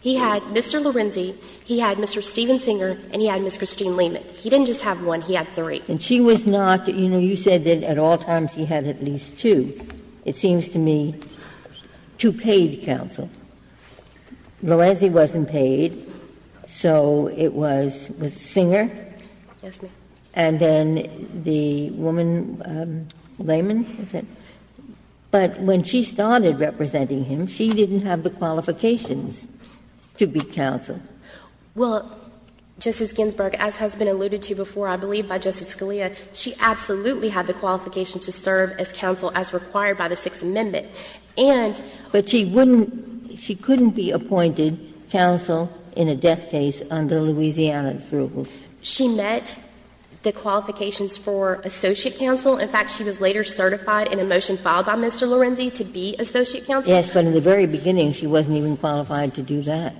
He had Mr. Lorenzi, he had Mr. Steven Singer, and he had Ms. Christine Lehman. He didn't just have one, he had three. And she was not, you know, you said that at all times he had at least two. It seems to me two paid counsel. Lorenzi wasn't paid, so it was Singer. Yes, ma'am. And then the woman, Lehman, was it? But when she started representing him, she didn't have the qualifications to be counsel. Well, Justice Ginsburg, as has been alluded to before, I believe, by Justice Scalia, she absolutely had the qualifications to serve as counsel as required by the Sixth Amendment. And she wouldn't, she couldn't be appointed counsel in a death case under Louisiana's rule. She met the qualifications for associate counsel. In fact, she was later certified in a motion filed by Mr. Lorenzi to be associate counsel. Yes, but in the very beginning, she wasn't even qualified to do that.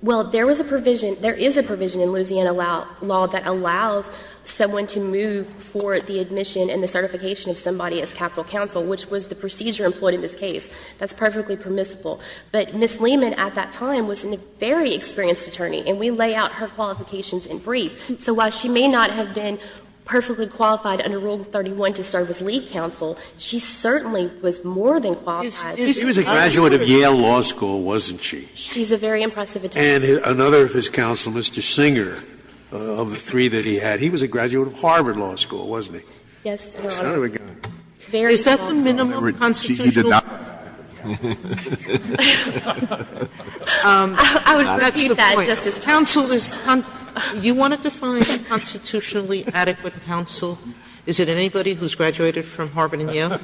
Well, there was a provision, there is a provision in Louisiana law that allows someone to move for the admission and the certification of somebody as capital counsel, which was the procedure employed in this case. That's perfectly permissible. But Ms. Lehman at that time was a very experienced attorney. And we lay out her qualifications in brief. So while she may not have been perfectly qualified under Rule 31 to serve as lead counsel, she certainly was more than qualified. Scalia was a graduate of Yale Law School, wasn't she? She's a very impressive attorney. And another of his counsel, Mr. Singer, of the three that he had, he was a graduate of Harvard Law School, wasn't he? Yes, Your Honor. Son of a gun. Is that the minimum constitutional requirement? I would repeat that, Justice Sotomayor. Counsel is, you want to define constitutionally adequate counsel? Is it anybody who's graduated from Harvard and Yale?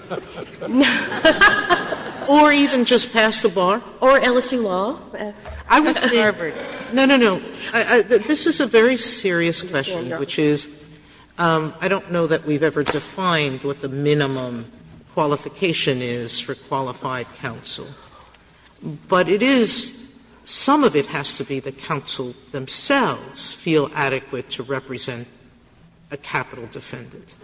Or even just passed the bar? Or LSU Law. I would think, no, no, no. This is a very serious question, which is, I don't know that we've ever defined what the minimum qualification is for qualified counsel. But it is, some of it has to be the counsel themselves feel adequate to represent a capital defendant.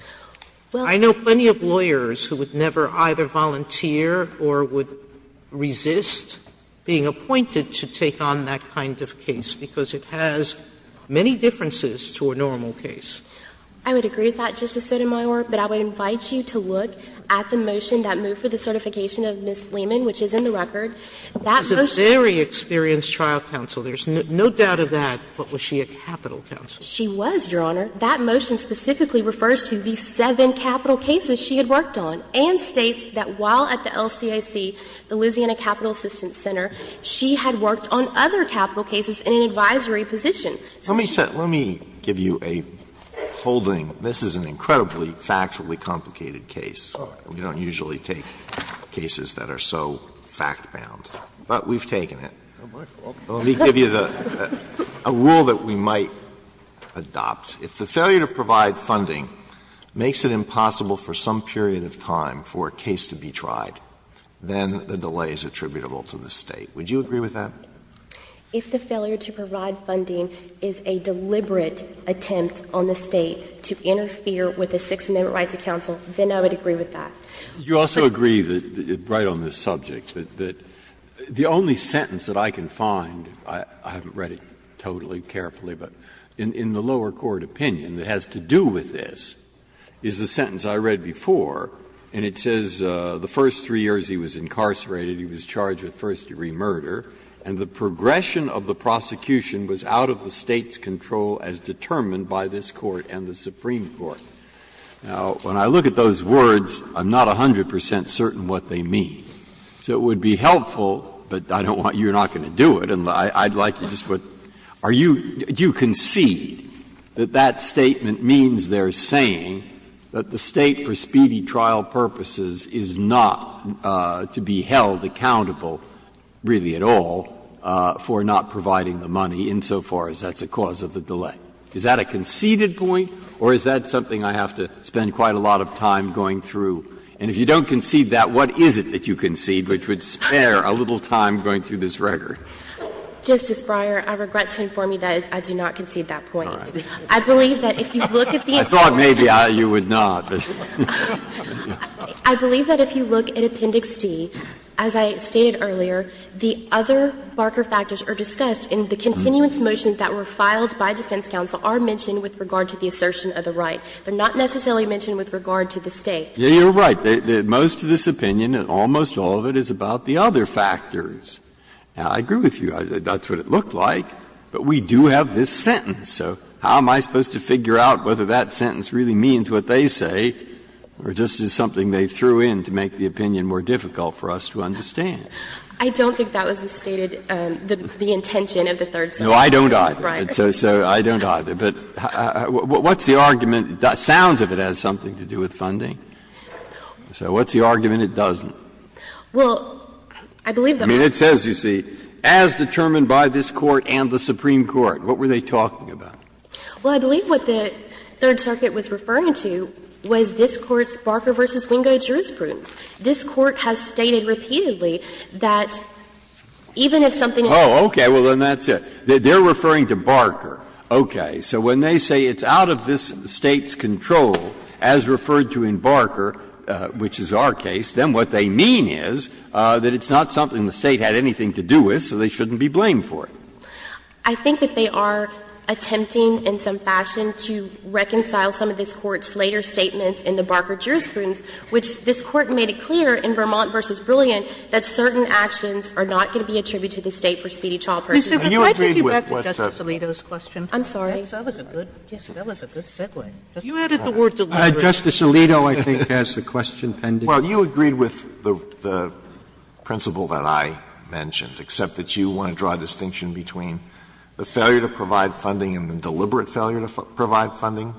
I know plenty of lawyers who would never either volunteer or would resist being appointed to take on that kind of case, because it has many differences to a normal case. I would agree with that, Justice Sotomayor. But I would invite you to look at the motion that moved for the certification of Ms. Lehman, which is in the record. That motion. She's a very experienced trial counsel. There's no doubt of that. But was she a capital counsel? She was, Your Honor. That motion specifically refers to the seven capital cases she had worked on, and states that while at the LCIC, the Louisiana Capital Assistance Center, she had worked on other capital cases in an advisory position. Let me give you a holding. This is an incredibly factually complicated case. We don't usually take cases that are so fact-bound. But we've taken it. Let me give you a rule that we might adopt. If the failure to provide funding makes it impossible for some period of time for a case to be tried, then the delay is attributable to the State. Would you agree with that? If the failure to provide funding is a deliberate attempt on the State to interfere with a Sixth Amendment right to counsel, then I would agree with that. Breyer. You also agree right on this subject that the only sentence that I can find, I haven't read it totally carefully, but in the lower court opinion that has to do with this is the sentence I read before, and it says the first three years he was incarcerated, he was charged with first-degree murder, and the progression of the prosecution was out of the State's control as determined by this Court and the Supreme Court. Now, when I look at those words, I'm not 100 percent certain what they mean. So it would be helpful, but I don't want you're not going to do it, and I'd like to just put, are you, do you concede that that statement means they're saying that the State, for speedy trial purposes, is not to be held accountable really at all for not providing the money insofar as that's a cause of the delay? Is that a conceded point, or is that something I have to spend quite a lot of time going through? And if you don't concede that, what is it that you concede which would spare a little time going through this record? Justice Breyer, I regret to inform you that I do not concede that point. I believe that if you look at the answer to that question. I thought maybe you would not. I believe that if you look at Appendix D, as I stated earlier, the other Barker factors are discussed, and the continuance motions that were filed by defense counsel are mentioned with regard to the assertion of the right. They're not necessarily mentioned with regard to the State. Breyer, you're right. Most of this opinion, and almost all of it, is about the other factors. Now, I agree with you. That's what it looked like, but we do have this sentence. So how am I supposed to figure out whether that sentence really means what they say, or just is something they threw in to make the opinion more difficult for us to understand? I don't think that was the stated, the intention of the third sentence. No, I don't either. So I don't either. But what's the argument? It sounds as if it has something to do with funding. So what's the argument it doesn't? Well, I believe that we're not going to do that. I mean, it says, you see, as determined by this Court and the Supreme Court. What were they talking about? Well, I believe what the Third Circuit was referring to was this Court's Barker v. Wingo jurisprudence. This Court has stated repeatedly that even if something is not in the State's control. Oh, okay. Well, then that's it. They're referring to Barker. Okay. So when they say it's out of this State's control, as referred to in Barker, which is our case, then what they mean is that it's not something the State had anything to do with, so they shouldn't be blamed for it. I think that they are attempting in some fashion to reconcile some of this Court's later statements in the Barker jurisprudence, which this Court made it clear in Vermont v. Brilliant that certain actions are not going to be attributed to the State for speedy trial purposes. Sotomayor, can I take you back to Justice Alito's question? I'm sorry. That was a good segue. You added the word deliberate. Justice Alito, I think, has the question pending. Well, you agreed with the principle that I mentioned, except that you want to draw a distinction between the failure to provide funding and the deliberate failure to provide funding.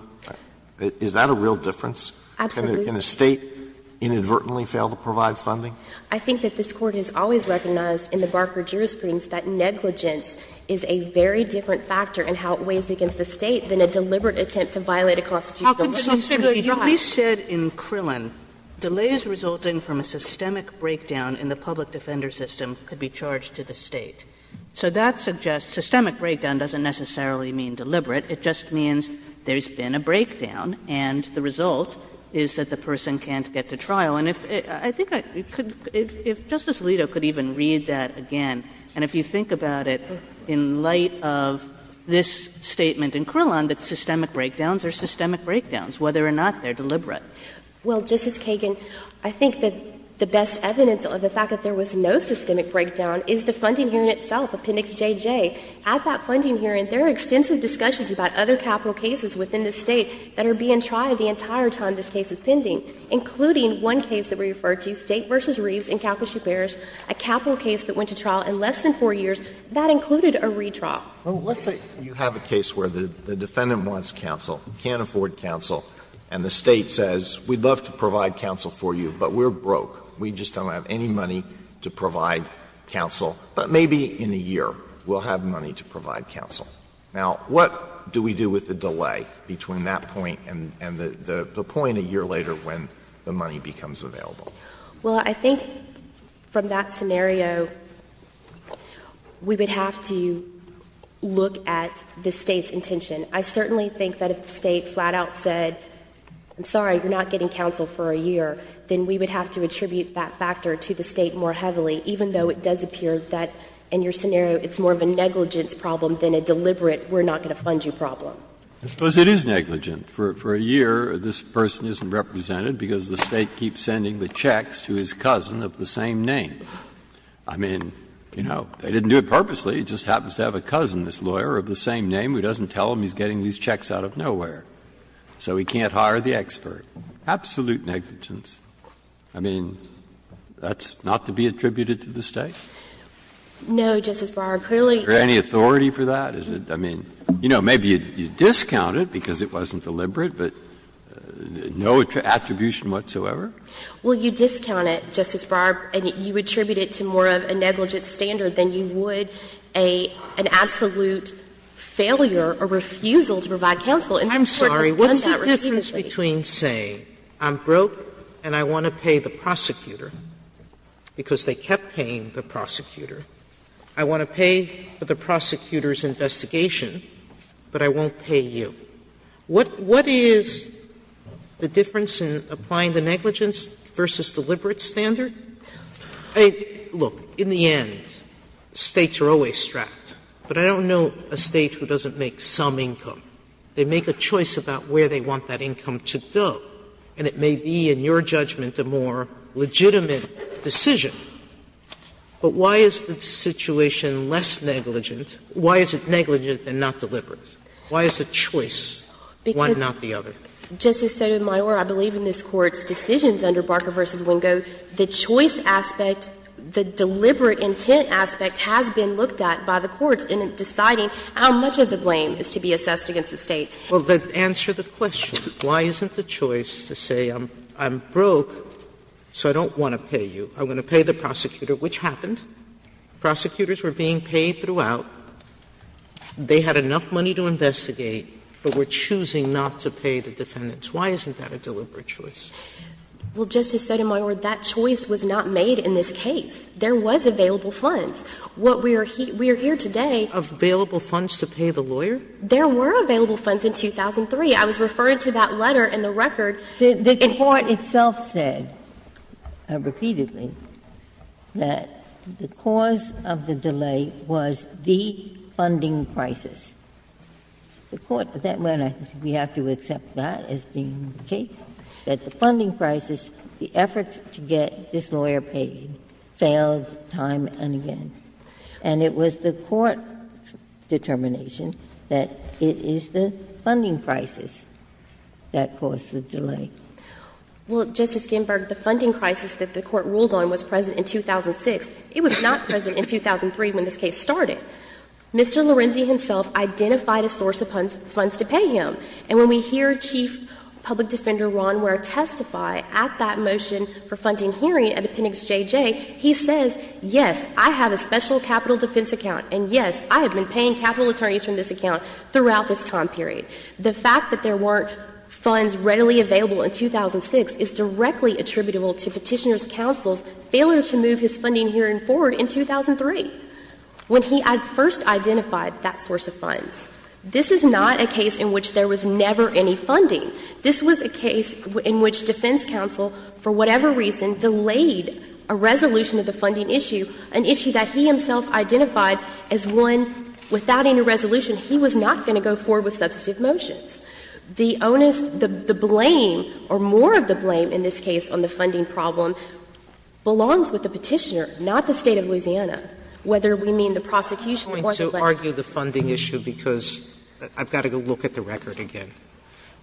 Is that a real difference? Absolutely. Can a State inadvertently fail to provide funding? I think that this Court has always recognized in the Barker jurisprudence that negligence is a very different factor in how it weighs against the State than a deliberate attempt to violate a constitutional right. How can the Supreme Court do that? You at least said in Krillin delays resulting from a systemic breakdown in the public defender system could be charged to the State. So that suggests systemic breakdown doesn't necessarily mean deliberate. It just means there's been a breakdown, and the result is that the person can't get to trial. And I think if Justice Alito could even read that again, and if you think about it in light of this statement in Krillin that systemic breakdowns are systemic breakdowns, whether or not they're deliberate. Well, Justice Kagan, I think that the best evidence of the fact that there was no systemic breakdown is the funding hearing itself, Appendix JJ. At that funding hearing, there are extensive discussions about other capital cases within the State that are being tried the entire time this case is pending, including one case that we referred to, State v. Reeves in Calcasieu Parish, a capital case that went to trial in less than 4 years that included a retrial. Well, let's say you have a case where the defendant wants counsel, can't afford counsel, and the State says, we'd love to provide counsel for you, but we're broke. We just don't have any money to provide counsel. But maybe in a year we'll have money to provide counsel. Now, what do we do with the delay between that point and the point a year later when the money becomes available? Well, I think from that scenario, we would have to look at the State's intention. I certainly think that if the State flat out said, I'm sorry, you're not getting counsel for a year, then we would have to attribute that factor to the State more heavily, even though it does appear that in your scenario it's more of a negligence problem than a deliberate, we're not going to fund you problem. I suppose it is negligent. For a year, this person isn't represented because the State keeps sending the checks to his cousin of the same name. I mean, you know, they didn't do it purposely. He just happens to have a cousin, this lawyer, of the same name who doesn't tell him he's getting these checks out of nowhere. So he can't hire the expert. Absolutely negligence. I mean, that's not to be attributed to the State? No, Justice Breyer, clearly. Is there any authority for that? I mean, you know, maybe you discount it because it wasn't deliberate, but no attribution whatsoever? Well, you discount it, Justice Breyer, and you attribute it to more of a negligent standard than you would an absolute failure or refusal to provide counsel. And the Court has done that repeatedly. Sotomayor, the difference between saying, I'm broke and I want to pay the prosecutor because they kept paying the prosecutor, I want to pay for the prosecutor's investigation, but I won't pay you, what is the difference in applying the negligence versus deliberate standard? Look, in the end, States are always strapped. But I don't know a State who doesn't make some income. They make a choice about where they want that income to go, and it may be, in your judgment, a more legitimate decision. But why is the situation less negligent? Why is it negligent and not deliberate? Why is the choice one, not the other? Justice Sotomayor, I believe in this Court's decisions under Barker v. Wingo, the choice aspect, the deliberate intent aspect has been looked at by the courts in deciding how much of the blame is to be assessed against the State. Well, then answer the question. Why isn't the choice to say, I'm broke, so I don't want to pay you, I'm going to pay the prosecutor, which happened. Prosecutors were being paid throughout. They had enough money to investigate, but were choosing not to pay the defendants. Why isn't that a deliberate choice? Well, Justice Sotomayor, that choice was not made in this case. There was available funds. What we are here today. Available funds to pay the lawyer? There were available funds in 2003. I was referred to that letter in the record. The Court itself said repeatedly that the cause of the delay was the funding crisis. The Court said, well, we have to accept that as being the case, that the funding crisis, the effort to get this lawyer paid, failed time and again. And it was the Court determination that it is the funding crisis that caused the delay. Well, Justice Ginsburg, the funding crisis that the Court ruled on was present in 2006. It was not present in 2003 when this case started. Mr. Lorenzi himself identified a source of funds to pay him. And when we hear Chief Public Defender Ron Ware testify at that motion for funding hearing at Appendix JJ, he says, yes, I have a special capital defense account, and yes, I have been paying capital attorneys from this account throughout this time period. The fact that there weren't funds readily available in 2006 is directly attributable to Petitioner's counsel's failure to move his funding hearing forward in 2003, when he first identified that source of funds. This is not a case in which there was never any funding. This was a case in which defense counsel, for whatever reason, delayed a resolution of the funding issue, an issue that he himself identified as one without any resolution he was not going to go forward with substantive motions. The onus, the blame, or more of the blame in this case on the funding problem belongs with the Petitioner, not the State of Louisiana, whether we mean the prosecution or the legislature. Sotomayor, I'm going to argue the funding issue because I've got to go look at the record again.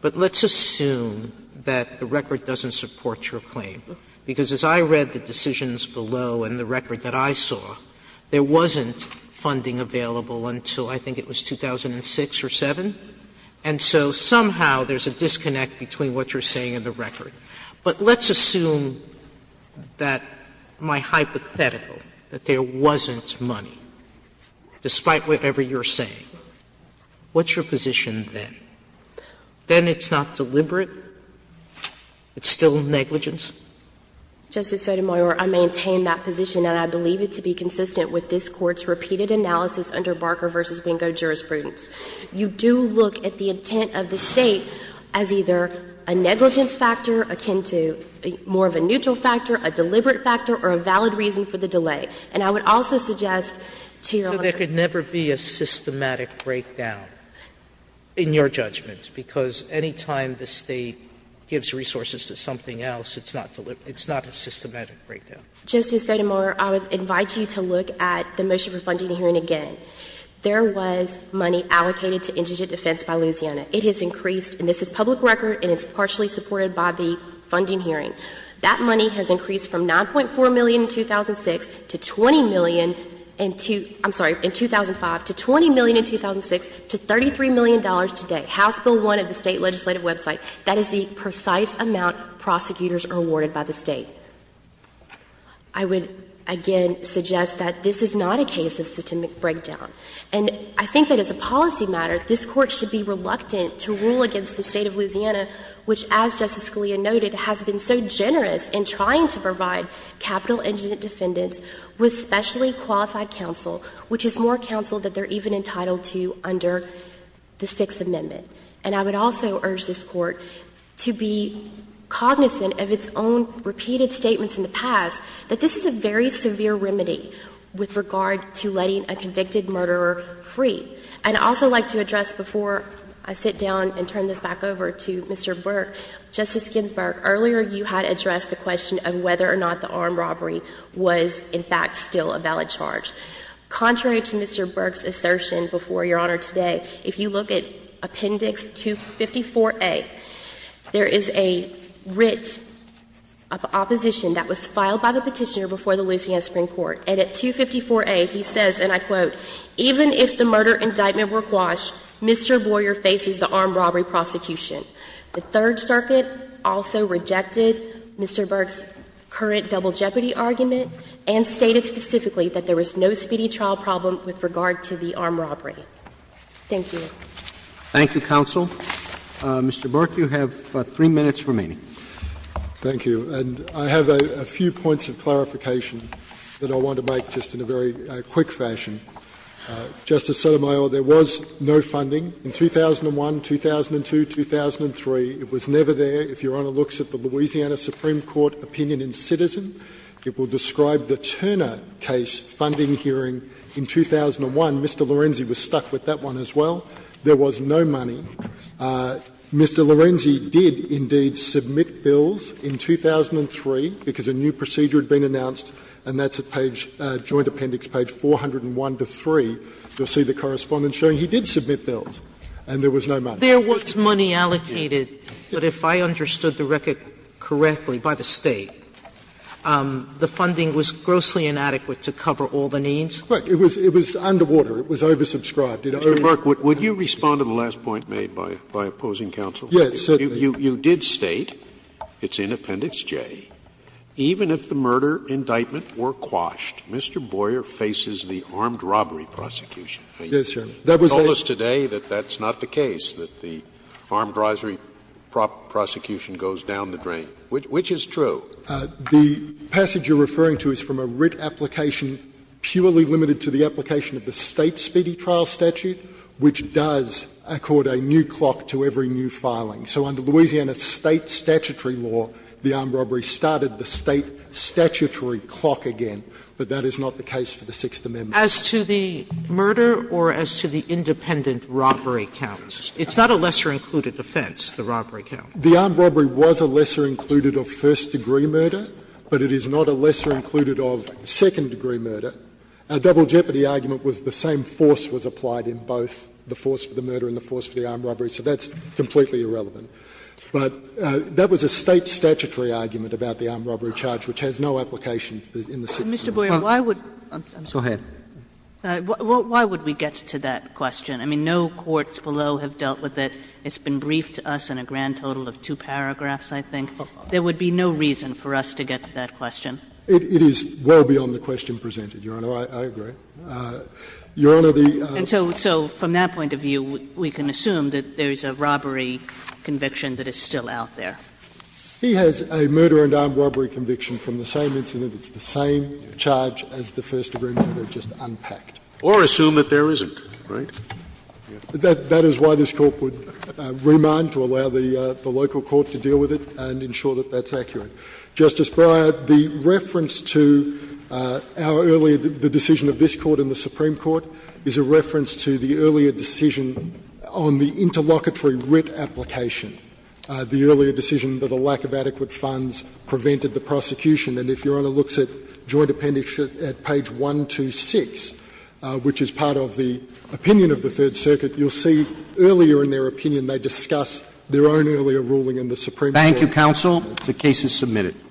But let's assume that the record doesn't support your claim, because as I read the decisions below and the record that I saw, there wasn't funding available until I think it was 2006 or 2007. And so somehow there's a disconnect between what you're saying and the record. But let's assume that my hypothetical, that there wasn't money, despite what you're saying. What's your position then? Then it's not deliberate? It's still negligence? Justice Sotomayor, I maintain that position, and I believe it to be consistent with this Court's repeated analysis under Barker v. Bingo jurisprudence. You do look at the intent of the State as either a negligence factor akin to more of a neutral factor, a deliberate factor, or a valid reason for the delay. And I would also suggest to Your Honor, that there could never be a systematic breakdown, in your judgment, because anytime the State gives resources to something else, it's not a systematic breakdown. Justice Sotomayor, I would invite you to look at the motion for funding hearing again. There was money allocated to indigent defense by Louisiana. It has increased, and this is public record, and it's partially supported by the funding hearing. That money has increased from $9.4 million in 2006 to $20 million in 2005, to $20 million in 2006, to $33 million today. House Bill 1 of the State legislative website. That is the precise amount prosecutors are awarded by the State. I would again suggest that this is not a case of systemic breakdown. And I think that as a policy matter, this Court should be reluctant to rule against the State of Louisiana, which as Justice Scalia noted, has been so generous in trying to provide capital indigent defendants with specially qualified counsel, which is more counsel that they're even entitled to under the Sixth Amendment. And I would also urge this Court to be cognizant of its own repeated statements in the past, that this is a very severe remedy with regard to letting a convicted murderer free. And I'd also like to address before I sit down and turn this back over to Mr. Burke. Justice Ginsburg, earlier you had addressed the question of whether or not the armed robbery was, in fact, still a valid charge. Contrary to Mr. Burke's assertion before Your Honor today, if you look at Appendix 254A, there is a writ of opposition that was filed by the petitioner before the Louisiana Supreme Court. And at 254A, he says, and I quote, even if the murder indictment were quashed, Mr. Boyer faces the armed robbery prosecution. The Third Circuit also rejected Mr. Burke's current double jeopardy argument and stated specifically that there was no speedy trial problem with regard to the armed robbery. Thank you. Roberts. Thank you, counsel. Mr. Burke, you have three minutes remaining. Thank you. And I have a few points of clarification that I want to make just in a very quick fashion. Justice Sotomayor, there was no funding in 2001, 2002, 2003. It was never there. If Your Honor looks at the Louisiana Supreme Court opinion in Citizen, it will describe the Turner case funding hearing in 2001. Mr. Lorenzi was stuck with that one as well. There was no money. Mr. Lorenzi did indeed submit bills in 2003, because a new procedure had been announced, and that's at page, joint appendix page 401 to 3. You'll see the correspondence showing he did submit bills, and there was no money. There was money allocated, but if I understood the record correctly, by the State, the funding was grossly inadequate to cover all the needs? Look, it was underwater. It was oversubscribed. Scalia. Mr. Burke, would you respond to the last point made by opposing counsel? Burke. Yes. You did state, it's in appendix J, Even if the murder indictment were quashed, Mr. Boyer faces the armed robbery prosecution. Yes, Your Honor. That was the case. You told us today that that's not the case, that the armed robbery prosecution goes down the drain. Which is true? The passage you're referring to is from a writ application purely limited to the application of the State's Speedy Trial Statute, which does accord a new clock to every new filing. So under Louisiana State statutory law, the armed robbery started the State statutory clock again. But that is not the case for the Sixth Amendment. As to the murder or as to the independent robbery count, it's not a lesser included offense, the robbery count. The armed robbery was a lesser included of first degree murder, but it is not a lesser included of second degree murder. Our double jeopardy argument was the same force was applied in both the force for the murder and the force for the armed robbery, so that's completely irrelevant. But that was a State statutory argument about the armed robbery charge, which has no application in the Sixth Amendment. Mr. Boyer, why would we get to that question? I mean, no courts below have dealt with it. It's been briefed to us in a grand total of two paragraphs, I think. There would be no reason for us to get to that question. It is well beyond the question presented, Your Honor. I agree. Your Honor, the — And so from that point of view, we can assume that there is a robbery conviction that is still out there. He has a murder and armed robbery conviction from the same incident. It's the same charge as the first degree murder, just unpacked. Or assume that there isn't, right? That is why this Court would remand to allow the local court to deal with it and ensure that that's accurate. Justice Breyer, the reference to our earlier — the decision of this Court and the Supreme Court is a reference to the earlier decision on the interlocutory writ application, the earlier decision that a lack of adequate funds prevented the prosecution. And if Your Honor looks at Joint Appendix at page 126, which is part of the opinion of the Third Circuit, you'll see earlier in their opinion they discuss their own earlier ruling in the Supreme Court. Thank you, counsel. The case is submitted.